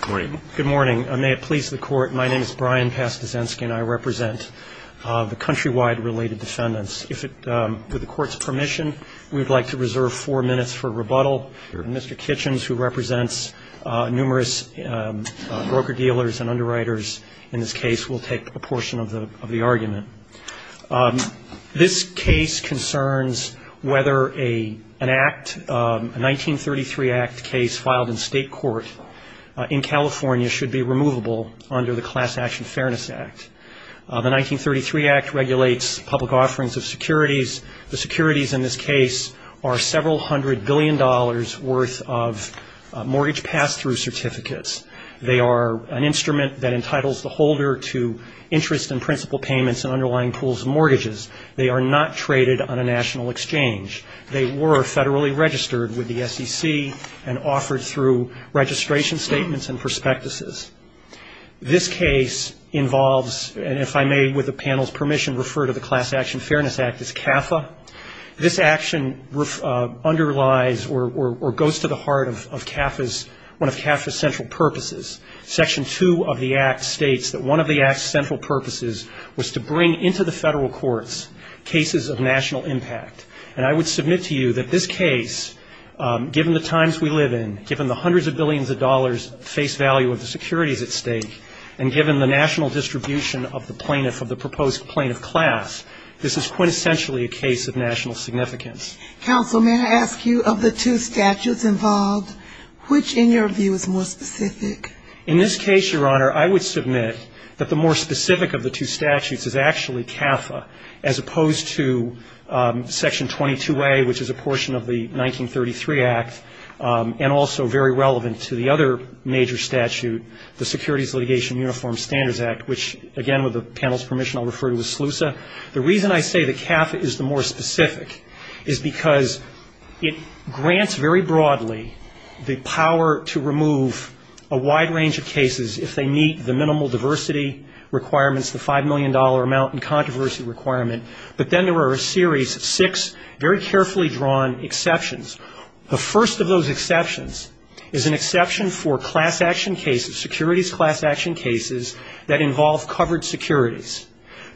Good morning. May it please the Court, my name is Brian Pastasensky and I represent the Countrywide Related Defendants. With the Court's permission, we would like to reserve four minutes for rebuttal. Mr. Kitchens, who represents numerous broker-dealers and underwriters in this case, will take a portion of the argument. This case concerns whether a 1933 Act case filed in state court in California should be removable under the Class Action Fairness Act. The 1933 Act regulates public offerings of securities. The securities in this case are several hundred billion dollars worth of mortgage pass-through certificates. They are an instrument that entitles the holder to interest and principal payments in underlying pools of mortgages. They are not traded on a national exchange. They were federally registered with the SEC and offered through registration statements and prospectuses. This case involves, and if I may, with the panel's permission, refer to the Class Action Fairness Act as CAFA. This action underlies or goes to the heart of CAFA's, one of CAFA's central purposes. Section 2 of the Act states that one of the Act's central purposes was to bring into the federal courts cases of national impact. And I would submit to you that this case, given the times we live in, given the hundreds of billions of dollars face value of the securities at stake, and given the national distribution of the plaintiff, of the proposed plaintiff class, this is quintessentially a case of national significance. Counsel, may I ask you, of the two statutes involved, which in your view is more specific? In this case, Your Honor, I would submit that the more specific of the two statutes is actually CAFA, as opposed to Section 22A, which is a portion of the 1933 Act, and also very relevant to the other major statute, the Securities Litigation Uniform Standards Act, which, again, with the panel's permission, I'll refer to as SLUSA. The reason I say that CAFA is the more specific is because it grants very broadly the power to remove a wide range of cases if they meet the minimal diversity requirements, the $5 million amount and controversy requirement. But then there are a series of six very carefully drawn exceptions. The first of those exceptions is an exception for class action cases, securities class action cases, that involve covered securities.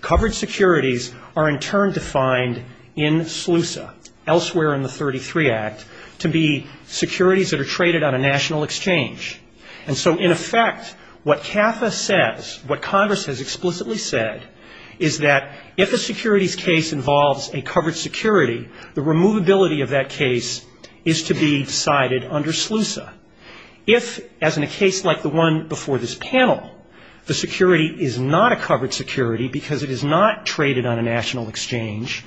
Covered securities are in turn defined in SLUSA, elsewhere in the 1933 Act, to be securities that are traded on a national exchange. And so, in effect, what CAFA says, what Congress has explicitly said, is that if a securities case involves a covered security, the removability of that case is to be cited under SLUSA. If, as in a case like the one before this panel, the security is not a covered security because it is not traded on a national exchange,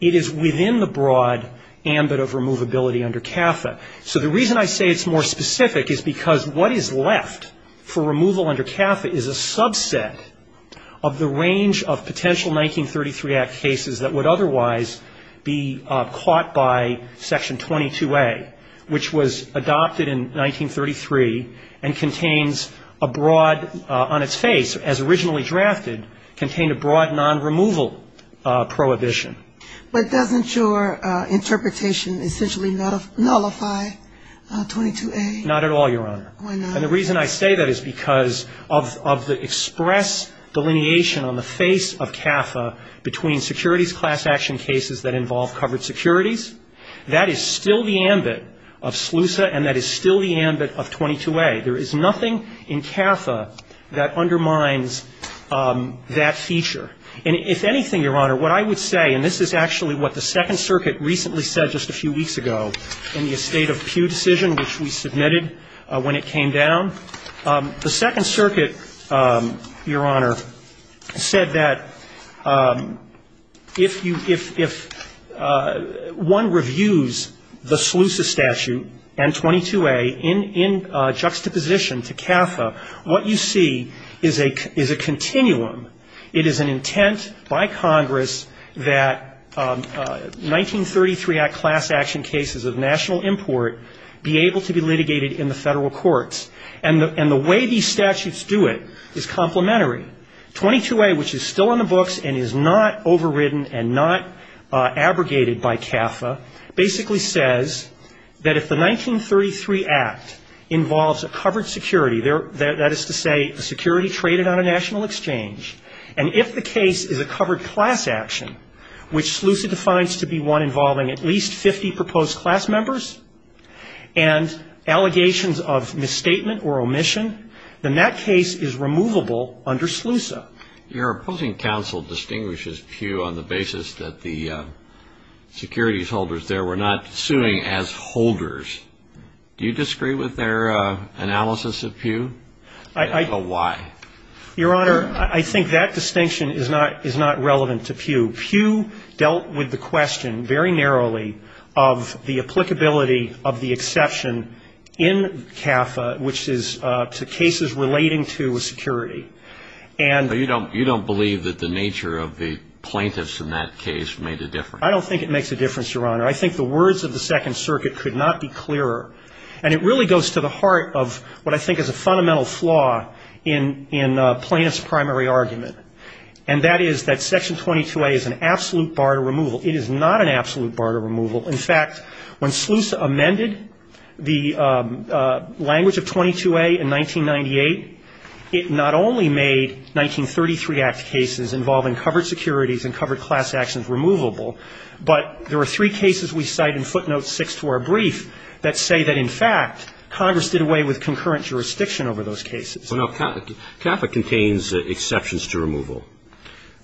it is within the broad ambit of removability under CAFA. So the reason I say it's more specific is because what is left for removal under CAFA is a subset of the range of potential 1933 Act cases that would otherwise be caught by Section 22A, which was adopted in 1933 and contains a broad, on its face, as originally drafted, contained a broad non-removal prohibition. But doesn't your interpretation essentially nullify 22A? Not at all, Your Honor. Why not? And the reason I say that is because of the express delineation on the face of CAFA between securities class action cases that involve covered securities, that is still the ambit of SLUSA and that is still the ambit of 22A. There is nothing in CAFA that undermines that feature. And if anything, Your Honor, what I would say, and this is actually what the Second Circuit recently said just a few weeks ago in the estate of Pew decision, which we submitted when it came down. The Second Circuit, Your Honor, said that if you, if one reviews the SLUSA statute and 22A in juxtaposition to CAFA, what you see is a continuum. It is an intent by Congress that 1933 Act class action cases of national import be able to be litigated in the Federal Courts. And the way these statutes do it is complementary. 22A, which is still in the books and is not overridden and not abrogated by CAFA, basically says that if the 1933 Act involves a covered security, that is to say a security traded on a national exchange, and if the case is a covered class action, which SLUSA defines to be one involving at least 50 proposed class members and allegations of misstatement or omission, then that case is removable under SLUSA. Your opposing counsel distinguishes Pew on the basis that the securities holders there were not suing as holders. Do you disagree with their analysis of Pew? I don't know why. Your Honor, I think that distinction is not relevant to Pew. Pew dealt with the question very narrowly of the applicability of the exception in CAFA, which is to cases relating to security. And you don't believe that the nature of the plaintiffs in that case made a difference? I don't think it makes a difference, Your Honor. I think the words of the Second Circuit could not be clearer. And it really goes to the heart of what I think is a fundamental flaw in plaintiff's primary argument, and that is that Section 22A is an absolute bar to removal. It is not an absolute bar to removal. In fact, when SLUSA amended the language of 22A in 1998, it not only made 1933 Act cases involving covered securities and covered class actions removable, but there are three cases we cite in footnote 6 to our brief that say that, in fact, Congress did away with concurrent jurisdiction over those cases. Well, now, CAFA contains exceptions to removal.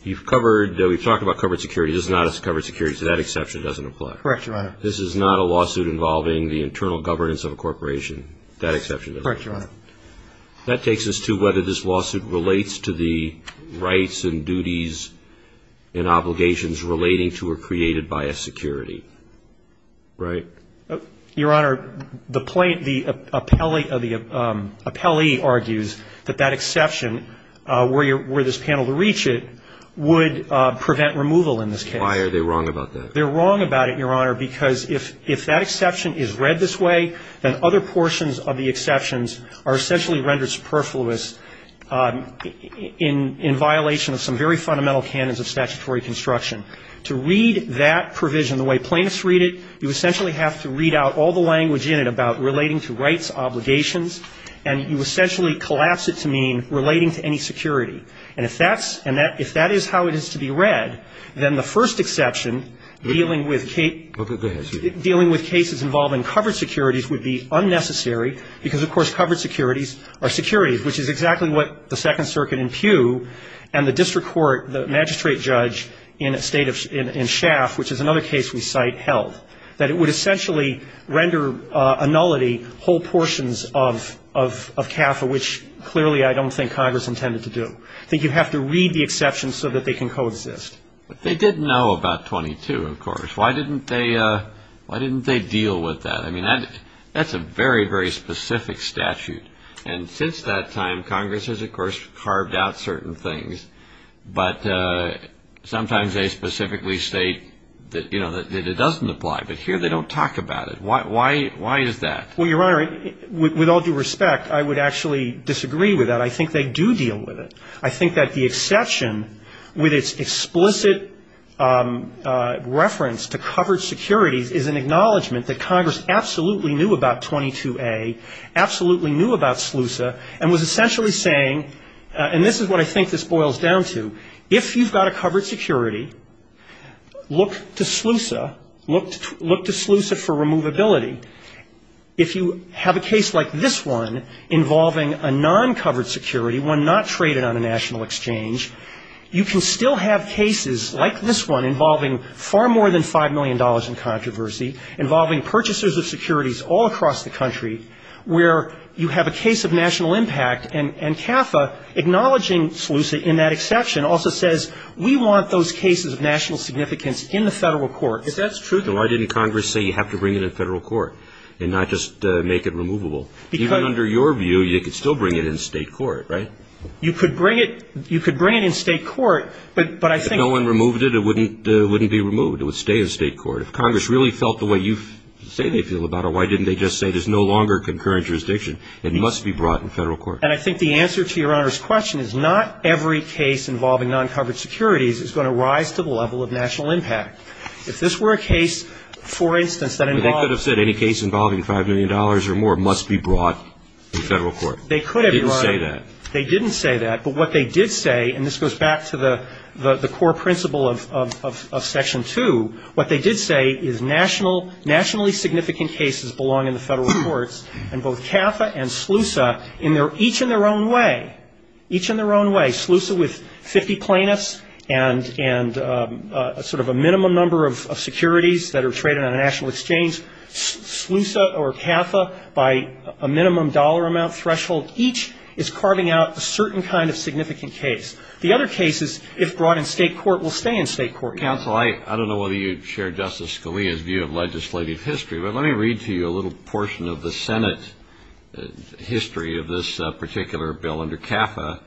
You've covered, we've talked about covered securities. It's not covered securities. That exception doesn't apply. Correct, Your Honor. This is not a lawsuit involving the internal governance of a corporation. That exception doesn't apply. Correct, Your Honor. That takes us to whether this lawsuit relates to the rights and duties and obligations relating to or created by a security, right? Your Honor, the plaintiff, the appellee argues that that exception, were this panel to reach it, would prevent removal in this case. Why are they wrong about that? They're wrong about it, Your Honor, because if that exception is read this way, then other portions of the exceptions are essentially rendered superfluous in violation of some very fundamental canons of statutory construction. To read that provision the way plaintiffs read it, you essentially have to read out all the language in it about relating to rights, obligations, and you essentially collapse it to mean relating to any security. And if that's, if that is how it is to be read, then the first exception dealing with cases involving covered securities would be unnecessary, because, of course, covered securities are securities, which is exactly what the Second Circuit in Pew and the district court, the magistrate judge in Shaft, which is another case we cite, held, that it would essentially render a nullity whole portions of CAFA, which clearly I don't think Congress intended to do. I think you have to read the exceptions so that they can coexist. But they did know about 22, of course. Why didn't they deal with that? I mean, that's a very, very specific statute. And since that time, Congress has, of course, carved out certain things. But sometimes they specifically state that, you know, that it doesn't apply. But here they don't talk about it. Why is that? Well, Your Honor, with all due respect, I would actually disagree with that. I think they do deal with it. I think that the exception with its explicit reference to covered securities is an acknowledgment that Congress absolutely knew about 22A, absolutely knew about SLUSA, and was essentially saying, and this is what I think this boils down to, if you've got a covered security, look to SLUSA. Look to SLUSA for removability. If you have a case like this one involving a non-covered security, one not traded on a national exchange, you can still have cases like this one involving far more than $5 million in controversy, involving purchasers of securities all across the country, where you have a case of national impact. And CAFA, acknowledging SLUSA in that exception, also says we want those cases of national significance in the federal court. If that's true, then why didn't Congress say you have to bring it in federal court and not just make it removable? Even under your view, you could still bring it in state court, right? You could bring it in state court, but I think that's... If no one removed it, it wouldn't be removed. It would stay in state court. If Congress really felt the way you say they feel about it, why didn't they just say there's no longer concurrent jurisdiction? It must be brought in federal court. And I think the answer to Your Honor's question is not every case involving non-covered securities is going to rise to the level of national impact. If this were a case, for instance, that involved... They didn't say that. They didn't say that. But what they did say, and this goes back to the core principle of Section 2, what they did say is nationally significant cases belong in the federal courts, and both CAFA and SLUSA, each in their own way, each in their own way. SLUSA with 50 plaintiffs and sort of a minimum number of securities that are traded on a national exchange, SLUSA or CAFA by a minimum dollar amount threshold, each is carving out a certain kind of significant case. The other cases, if brought in state court, will stay in state court. Counsel, I don't know whether you share Justice Scalia's view of legislative history, but let me read to you a little portion of the Senate history of this particular bill under CAFA.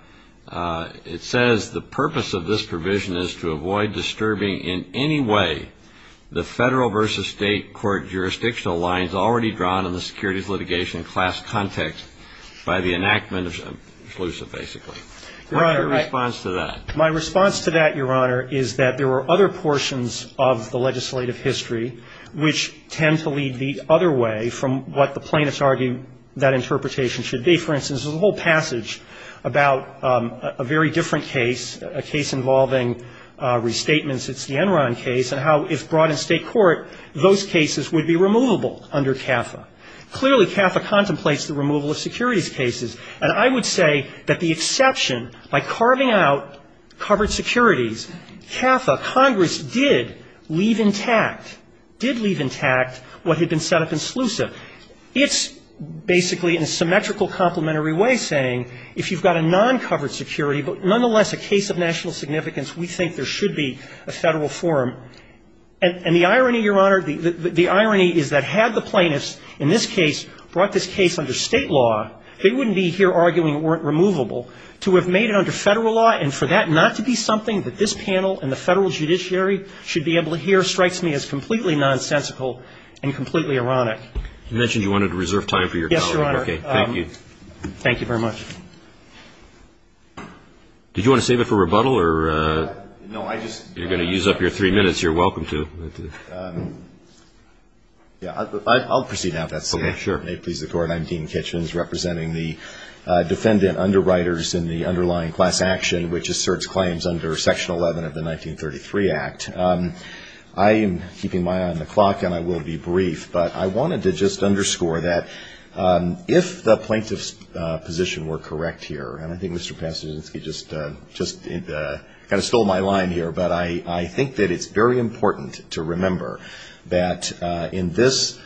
It says, The purpose of this provision is to avoid disturbing in any way the federal versus state court jurisdictional lines already drawn in the securities litigation class context by the enactment of SLUSA, basically. Your response to that? My response to that, Your Honor, is that there are other portions of the legislative history which tend to lead the other way from what the plaintiffs argue that interpretation should be. For instance, there's a whole passage about a very different case, a case involving restatements. It's the Enron case and how, if brought in state court, those cases would be removable under CAFA. Clearly, CAFA contemplates the removal of securities cases. And I would say that the exception, by carving out covered securities, CAFA, Congress did leave intact, did leave intact what had been set up in SLUSA. It's basically in a symmetrical complementary way saying if you've got a non-covered security, but nonetheless a case of national significance, we think there should be a federal forum. And the irony, Your Honor, the irony is that had the plaintiffs in this case brought this case under state law, they wouldn't be here arguing it weren't removable. To have made it under federal law and for that not to be something that this panel and the federal judiciary should be able to hear strikes me as completely nonsensical and completely ironic. You mentioned you wanted to reserve time for your colleague. Yes, Your Honor. Okay. Thank you. Thank you very much. Did you want to save it for rebuttal or? No, I just. You're going to use up your three minutes. You're welcome to. I'll proceed now if that's okay. Sure. If it may please the Court, I'm Dean Kitchens representing the defendant underwriters in the underlying class action which asserts claims under Section 11 of the 1933 Act. I am keeping my eye on the clock and I will be brief, but I wanted to just underscore that if the plaintiff's position were correct here, and I think Mr. Passagenski just kind of stole my line here, but I think that it's very important to remember that in this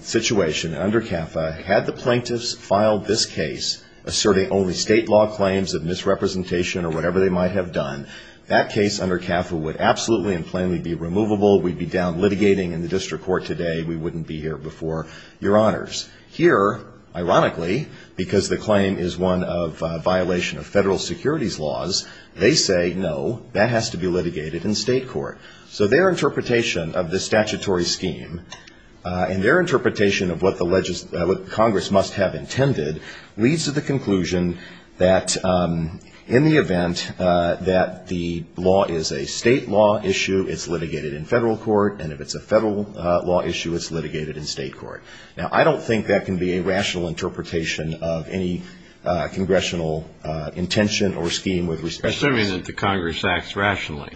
situation under CAFA, had the plaintiffs filed this case asserting only state law claims of misrepresentation or whatever they might have done, that case under CAFA would absolutely and plainly be removable, we'd be down litigating in the district court today, we wouldn't be here before Your Honors. Here, ironically, because the claim is one of violation of federal securities laws, they say no, that has to be litigated in state court. So their interpretation of this statutory scheme and their interpretation of what the Congress must have intended leads to the conclusion that in the event that the law is a state law issue, it's litigated in federal court, and if it's a federal law issue, it's litigated in state court. Now, I don't think that can be a rational interpretation of any congressional intention or scheme with respect to the Congress acts rationally.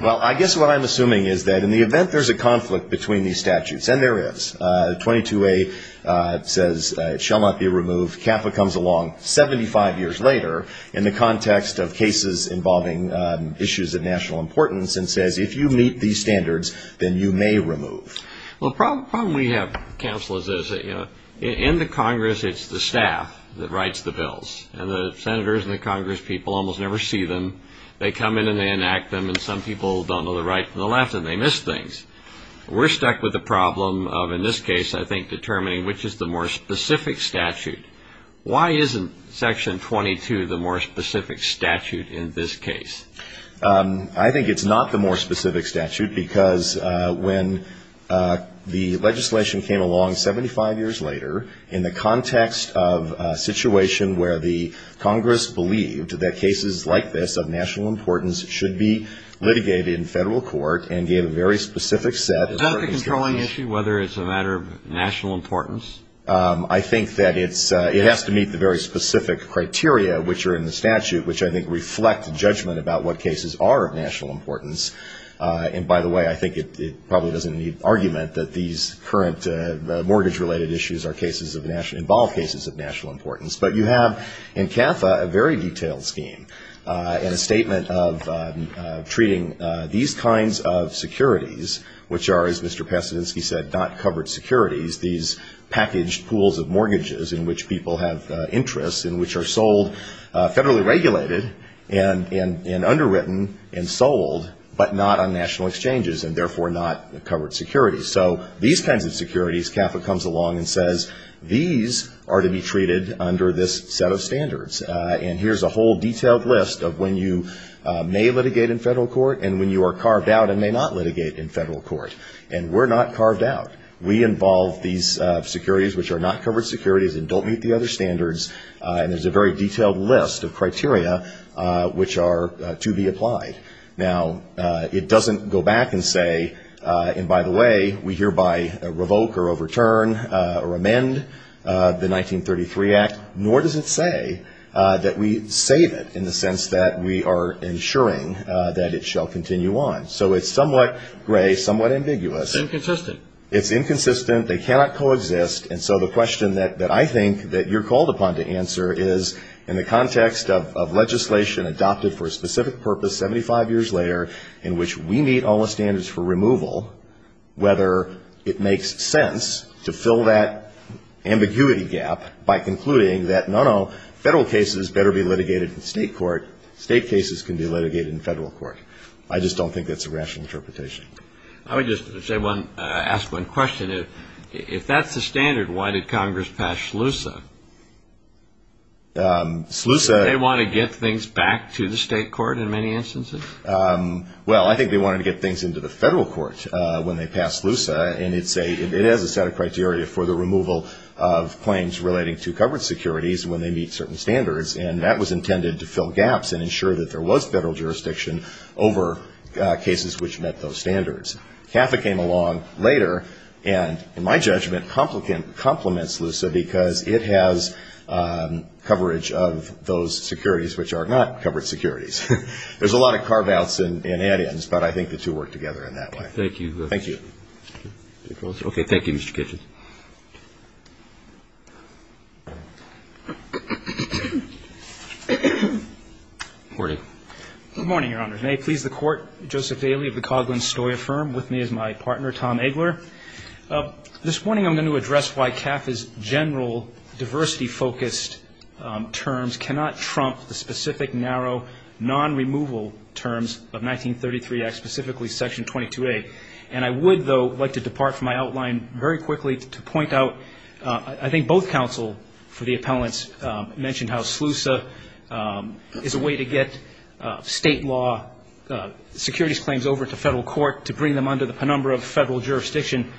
Well, I guess what I'm assuming is that in the event there's a conflict between these statutes, and there is, 22A says it shall not be removed, CAFA comes along 75 years later in the context of cases involving issues of national importance and says, if you meet these standards, then you may remove. Well, the problem we have, counselors, is in the Congress, it's the staff that writes the bills. And the senators and the Congress people almost never see them. They come in and they enact them, and some people don't know the right and the left, and they miss things. We're stuck with the problem of, in this case, I think, determining which is the more specific statute. Why isn't Section 22 the more specific statute in this case? I think it's not the more specific statute, because when the legislation came along 75 years later, in the context of a situation where the Congress believed that cases like this of national importance should be litigated in federal court and gave a very specific set of standards to it. Is that the controlling issue, whether it's a matter of national importance? I think that it has to meet the very specific criteria which are in the statute, which I think reflect judgment about what cases are of national importance. And, by the way, I think it probably doesn't need argument that these current mortgage-related issues are cases of national, involve cases of national importance. But you have in CAFA a very detailed scheme and a statement of treating these kinds of securities, which are, as Mr. Pasadensky said, not covered securities. These packaged pools of mortgages in which people have interests, in which are sold, federally regulated and underwritten and sold, but not on national exchanges and, therefore, not covered securities. So these kinds of securities, CAFA comes along and says, these are to be treated under this set of standards. And here's a whole detailed list of when you may litigate in federal court and when you are carved out and may not litigate in federal court. And we're not carved out. We involve these securities which are not covered securities and don't meet the other standards. And there's a very detailed list of criteria which are to be applied. Now, it doesn't go back and say, and, by the way, we hereby revoke or overturn or amend the 1933 Act, nor does it say that we save it in the sense that we are ensuring that it shall continue on. So it's somewhat gray, somewhat ambiguous. It's inconsistent. It's inconsistent. They cannot coexist. And so the question that I think that you're called upon to answer is, in the context of legislation adopted for a specific purpose 75 years later in which we meet all the standards for removal, whether it makes sense to fill that ambiguity gap by concluding that, no, no, federal cases better be litigated in state court. State cases can be litigated in federal court. I just don't think that's a rational interpretation. I would just ask one question. If that's the standard, why did Congress pass SLUSA? SLUSA they want to get things back to the state court in many instances? Well, I think they wanted to get things into the federal court when they passed SLUSA, and it has a set of criteria for the removal of claims relating to covered securities when they meet certain standards, and that was intended to fill gaps and ensure that there was federal jurisdiction over cases which met those standards. CAFA came along later and, in my judgment, complements SLUSA because it has coverage of those securities which are not covered securities. There's a lot of carve-outs and add-ins, but I think the two work together in that way. Thank you. Thank you. Okay. Thank you, Mr. Kitchin. Good morning, Your Honors. May it please the Court, Joseph Daley of the Coghlan-Stoyer Firm, with me is my partner, Tom Eggler. This morning I'm going to address why CAFA's general diversity-focused terms cannot trump the specific, narrow, non-removal terms of 1933 Act, specifically Section 22A. And I would, though, like to depart from my outline very quickly to address the general diversity-focused I think both counsel for the appellants mentioned how SLUSA is a way to get state law securities claims over to federal court to bring them under the penumbra of federal jurisdiction.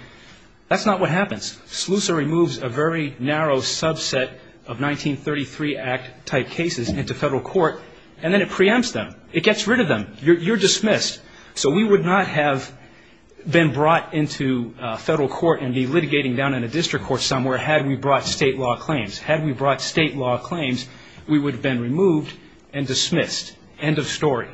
That's not what happens. SLUSA removes a very narrow subset of 1933 Act-type cases into federal court, and then it preempts them. It gets rid of them. You're dismissed. So we would not have been brought into federal court and be litigating down in a district court somewhere had we brought state law claims. Had we brought state law claims, we would have been removed and dismissed. End of story.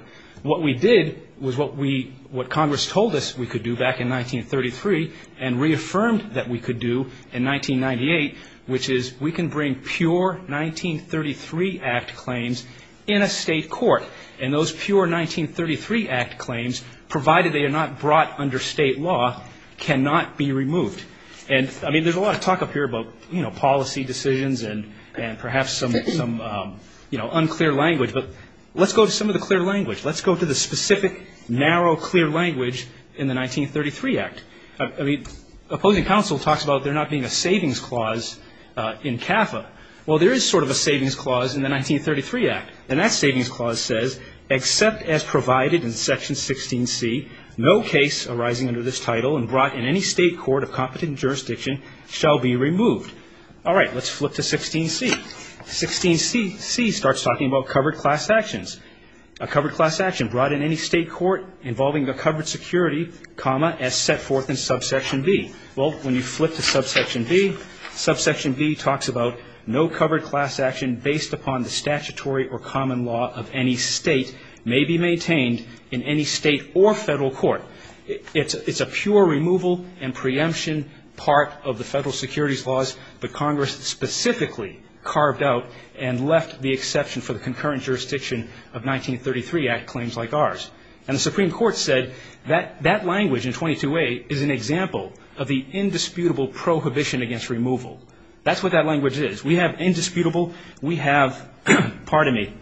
What we did was what Congress told us we could do back in 1933 and reaffirmed that we could do in 1998, which is we can bring pure 1933 Act claims in a state court. And those pure 1933 Act claims, provided they are not brought under state law, cannot be removed. And, I mean, there's a lot of talk up here about, you know, policy decisions and perhaps some, you know, unclear language, but let's go to some of the clear language. Let's go to the specific, narrow, clear language in the 1933 Act. I mean, opposing counsel talks about there not being a savings clause in CAFA. Well, there is sort of a savings clause in the 1933 Act. And that savings clause says, except as provided in Section 16C, no case arising under this title and brought in any state court of competent jurisdiction shall be removed. All right, let's flip to 16C. 16C starts talking about covered class actions. A covered class action brought in any state court involving a covered security, comma, as set forth in Subsection B. Well, when you flip to Subsection B, Subsection B talks about no covered class action based upon the statutory or common law of any state may be maintained in any state or federal court. It's a pure removal and preemption part of the federal securities laws that Congress specifically carved out and left the exception for the concurrent jurisdiction of 1933 Act claims like ours. And the Supreme Court said that that language in 22A is an example of the indisputable prohibition against removal. That's what that language is. We have indisputable. We have, pardon me,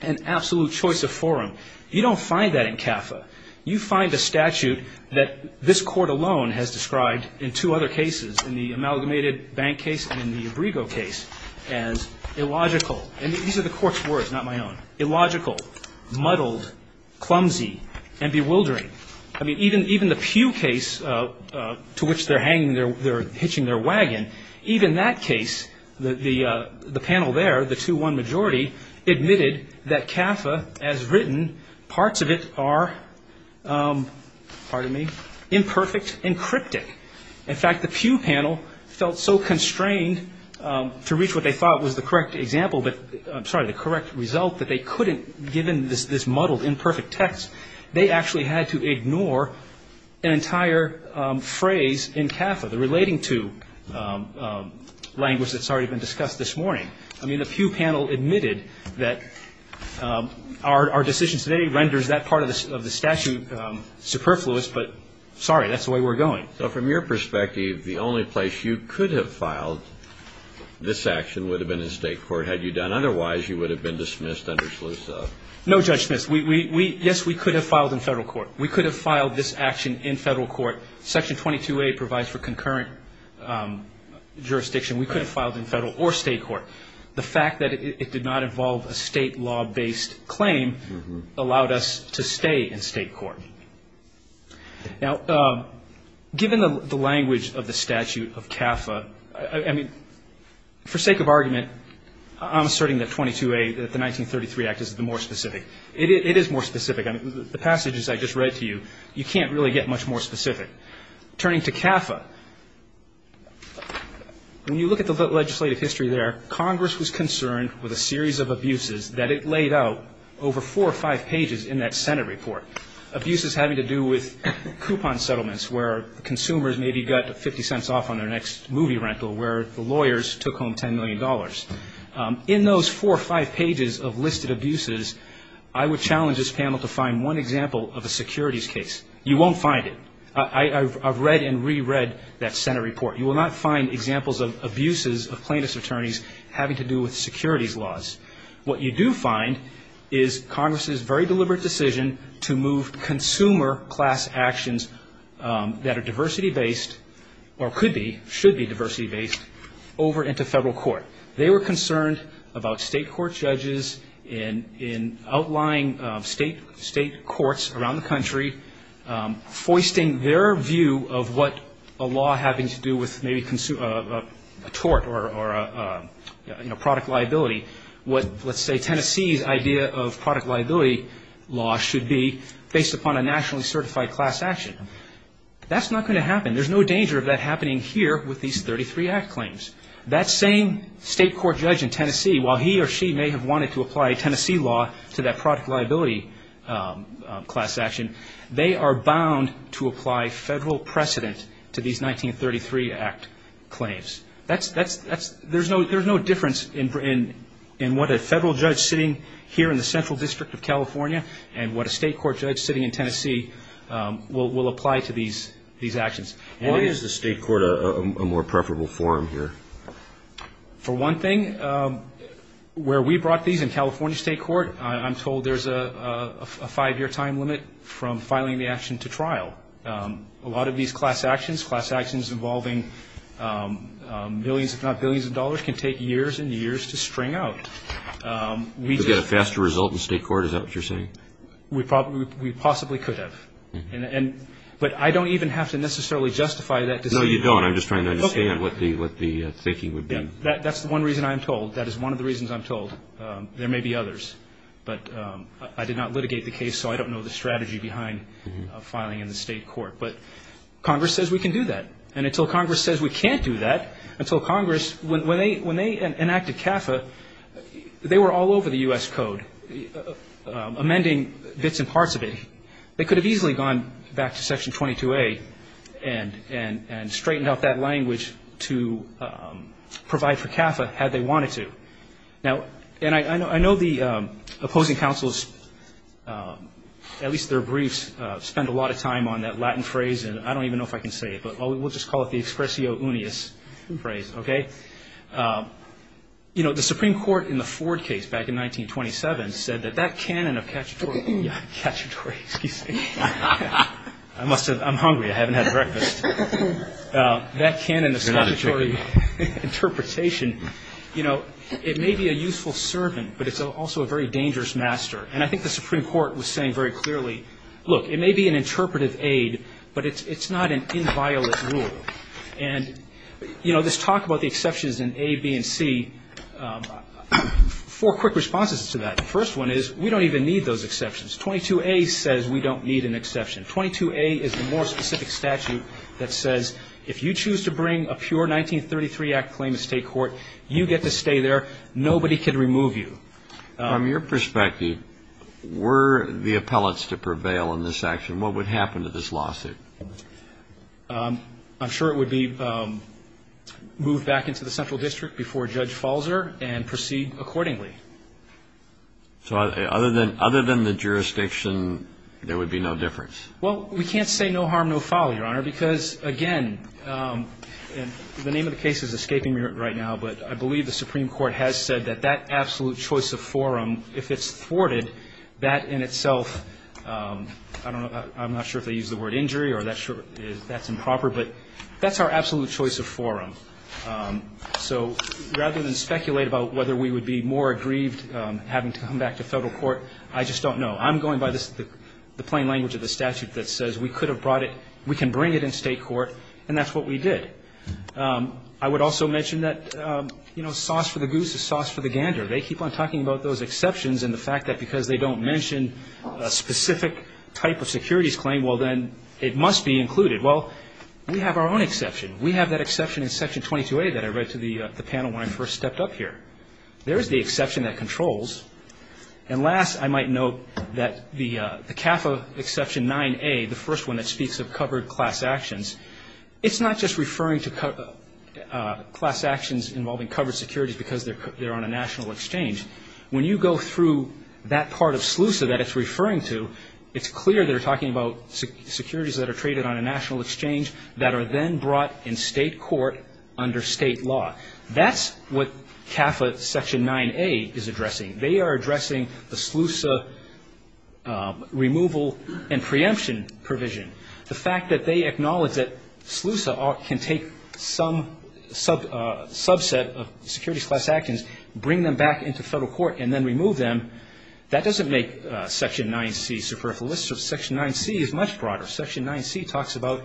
an absolute choice of forum. You don't find that in CAFA. You find a statute that this Court alone has described in two other cases, in the amalgamated bank case and in the abrigo case, as illogical. And these are the Court's words, not my own. Illogical, muddled, clumsy, and bewildering. I mean, even the Pew case to which they're hitching their wagon, even that case, the panel there, the 2-1 majority, admitted that CAFA, as written, parts of it are, pardon me, imperfect and cryptic. In fact, the Pew panel felt so constrained to reach what they thought was the correct example, I'm sorry, the correct result, that they couldn't, given this muddled, imperfect text, they actually had to ignore an entire phrase in CAFA, the relating to language that's already been discussed this morning. I mean, the Pew panel admitted that our decision today renders that part of the statute superfluous, but sorry, that's the way we're going. So from your perspective, the only place you could have filed this action would have been in State court had you done otherwise, you would have been dismissed under SLUSA. No, Judge Smith. Yes, we could have filed in Federal court. We could have filed this action in Federal court. Section 22A provides for concurrent jurisdiction. We could have filed in Federal or State court. The fact that it did not involve a State law-based claim allowed us to stay in State court. Now, given the language of the statute of CAFA, I mean, for sake of argument, I'm asserting that 22A, that the 1933 Act is the more specific. It is more specific. I mean, the passages I just read to you, you can't really get much more specific. Turning to CAFA, when you look at the legislative history there, Congress was concerned with a series of abuses that it laid out over four or five pages in that Senate report, abuses having to do with coupon settlements where consumers maybe got 50 cents off on their next movie rental where the lawyers took home $10 million. In those four or five pages of listed abuses, I would challenge this panel to find one example of a securities case. You won't find it. I've read and reread that Senate report. You will not find examples of abuses of plaintiff's attorneys having to do with securities laws. What you do find is Congress's very deliberate decision to move consumer class actions that are diversity-based or could be, should be diversity-based over into federal court. They were concerned about state court judges in outlying state courts around the country, foisting their view of what a law having to do with maybe a tort or, you know, product liability, what, let's say, Tennessee's idea of product liability law should be based upon a nationally certified class action. That's not going to happen. There's no danger of that happening here with these 33 Act claims. That same state court judge in Tennessee, while he or she may have wanted to apply Tennessee law to that product liability class action, they are bound to apply federal precedent to these 1933 Act claims. There's no difference in what a federal judge sitting here in the Central District of California and what a state court judge sitting in Tennessee will apply to these actions. Why is the state court a more preferable forum here? For one thing, where we brought these in California state court, I'm told there's a five-year time limit from filing the action to trial. A lot of these class actions, class actions involving millions if not billions of dollars, can take years and years to string out. We could get a faster result in state court. Is that what you're saying? We possibly could have. But I don't even have to necessarily justify that decision. No, you don't. I'm just trying to understand what the thinking would be. That's the one reason I'm told. That is one of the reasons I'm told. There may be others. But I did not litigate the case, so I don't know the strategy behind filing in the state court. But Congress says we can do that. And until Congress says we can't do that, until Congress, when they enacted CAFA, they were all over the U.S. Code amending bits and parts of it. They could have easily gone back to Section 22A and straightened out that language to provide for CAFA had they wanted to. Now, and I know the opposing counsels, at least their briefs, spend a lot of time on that Latin phrase, and I don't even know if I can say it. But we'll just call it the expressio unius phrase, okay? You know, the Supreme Court in the Ford case back in 1927 said that that canon of cacciatore Excuse me. I'm hungry. I haven't had breakfast. That canon of cacciatore interpretation, you know, it may be a useful servant, but it's also a very dangerous master. And I think the Supreme Court was saying very clearly, look, it may be an interpretive aid, but it's not an inviolate rule. And, you know, this talk about the exceptions in A, B, and C, four quick responses to that. The first one is we don't even need those exceptions. 22A says we don't need an exception. 22A is the more specific statute that says if you choose to bring a pure 1933 Act claim to state court, you get to stay there. Nobody can remove you. From your perspective, were the appellates to prevail in this action, what would happen to this lawsuit? I'm sure it would be moved back into the central district before Judge Falzer and proceed accordingly. So other than the jurisdiction, there would be no difference? Well, we can't say no harm, no foul, Your Honor, because, again, the name of the case is escaping me right now, but I believe the Supreme Court has said that that absolute choice of forum, if it's thwarted, that in itself, I don't know, I'm not sure if they use the word injury or that's improper, but that's our absolute choice of forum. So rather than speculate about whether we would be more aggrieved having to come back to federal court, I just don't know. I'm going by the plain language of the statute that says we could have brought it, we can bring it in state court, and that's what we did. I would also mention that, you know, sauce for the goose is sauce for the gander. They keep on talking about those exceptions and the fact that because they don't mention a specific type of securities claim, well, then, it must be included. Well, we have our own exception. We have that exception in Section 22A that I read to the panel when I first stepped up here. There is the exception that controls. And last, I might note that the CAFA Exception 9A, the first one that speaks of covered class actions, it's not just referring to class actions involving covered securities because they're on a national exchange. When you go through that part of SLUSA that it's referring to, it's clear they're talking about securities that are traded on a national exchange that are then brought in state court under state law. That's what CAFA Section 9A is addressing. They are addressing the SLUSA removal and preemption provision. The fact that they acknowledge that SLUSA can take some subset of securities class actions, bring them back into federal court, and then remove them, that doesn't make Section 9C superfluous. Section 9C is much broader. Section 9C talks about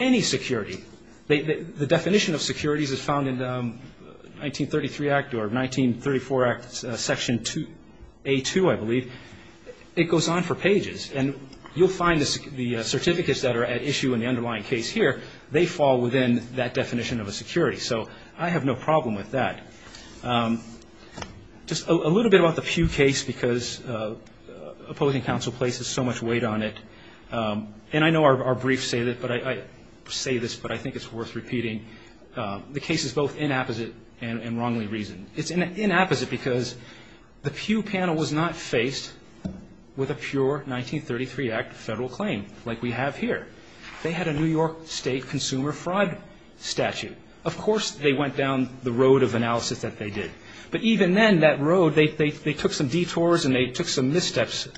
any security. The definition of securities is found in 1933 Act or 1934 Act, Section 2A2, I believe. It goes on for pages. And you'll find the certificates that are at issue in the underlying case here, they fall within that definition of a security. So I have no problem with that. Just a little bit about the Pew case because opposing counsel places so much weight on it. And I know our briefs say this, but I think it's worth repeating. The case is both inapposite and wrongly reasoned. It's inapposite because the Pew panel was not faced with a pure 1933 Act federal claim like we have here. They had a New York State consumer fraud statute. Of course they went down the road of analysis that they did. But even then, that road, they took some detours and they took some missteps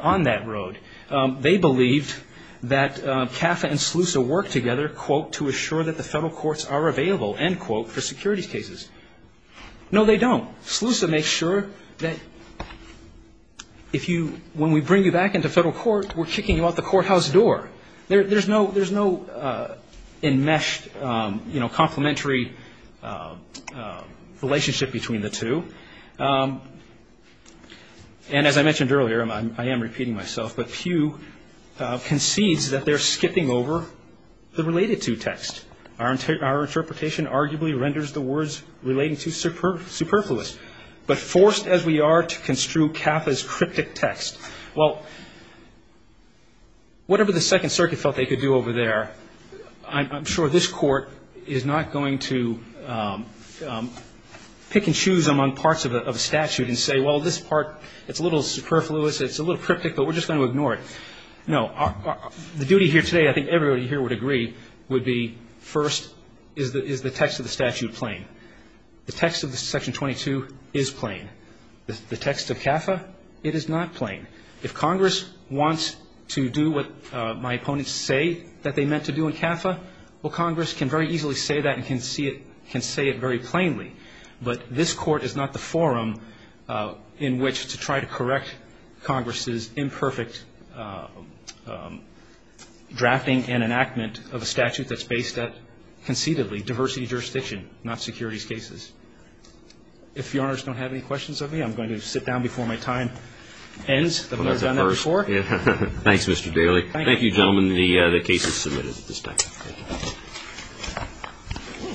on that road. They believed that CAFA and SLUSA worked together, quote, to assure that the federal courts are available, end quote, for securities cases. No, they don't. SLUSA makes sure that if you, when we bring you back into federal court, we're kicking you out the courthouse door. There's no enmeshed, you know, complementary relationship between the two. And as I mentioned earlier, I am repeating myself, but Pew concedes that they're skipping over the related to text. Our interpretation arguably renders the words relating to superfluous, but forced as we are to construe CAFA's cryptic text. Well, whatever the Second Circuit felt they could do over there, I'm sure this Court is not going to pick and choose among parts of a statute and say, well, this part, it's a little superfluous, it's a little cryptic, but we're just going to ignore it. No. The duty here today, I think everybody here would agree, would be first, is the text of the statute plain? The text of Section 22 is plain. The text of CAFA, it is not plain. If Congress wants to do what my opponents say that they meant to do in CAFA, well, Congress can very easily say that and can say it very plainly. But this Court is not the forum in which to try to correct Congress's imperfect drafting and enactment of a statute that's based at, concededly, diversity of jurisdiction, not securities cases. If Your Honors don't have any questions of me, I'm going to sit down before my time ends. I've never done that before. Thanks, Mr. Daley. Thank you. Thank you, gentlemen. The case is submitted at this time.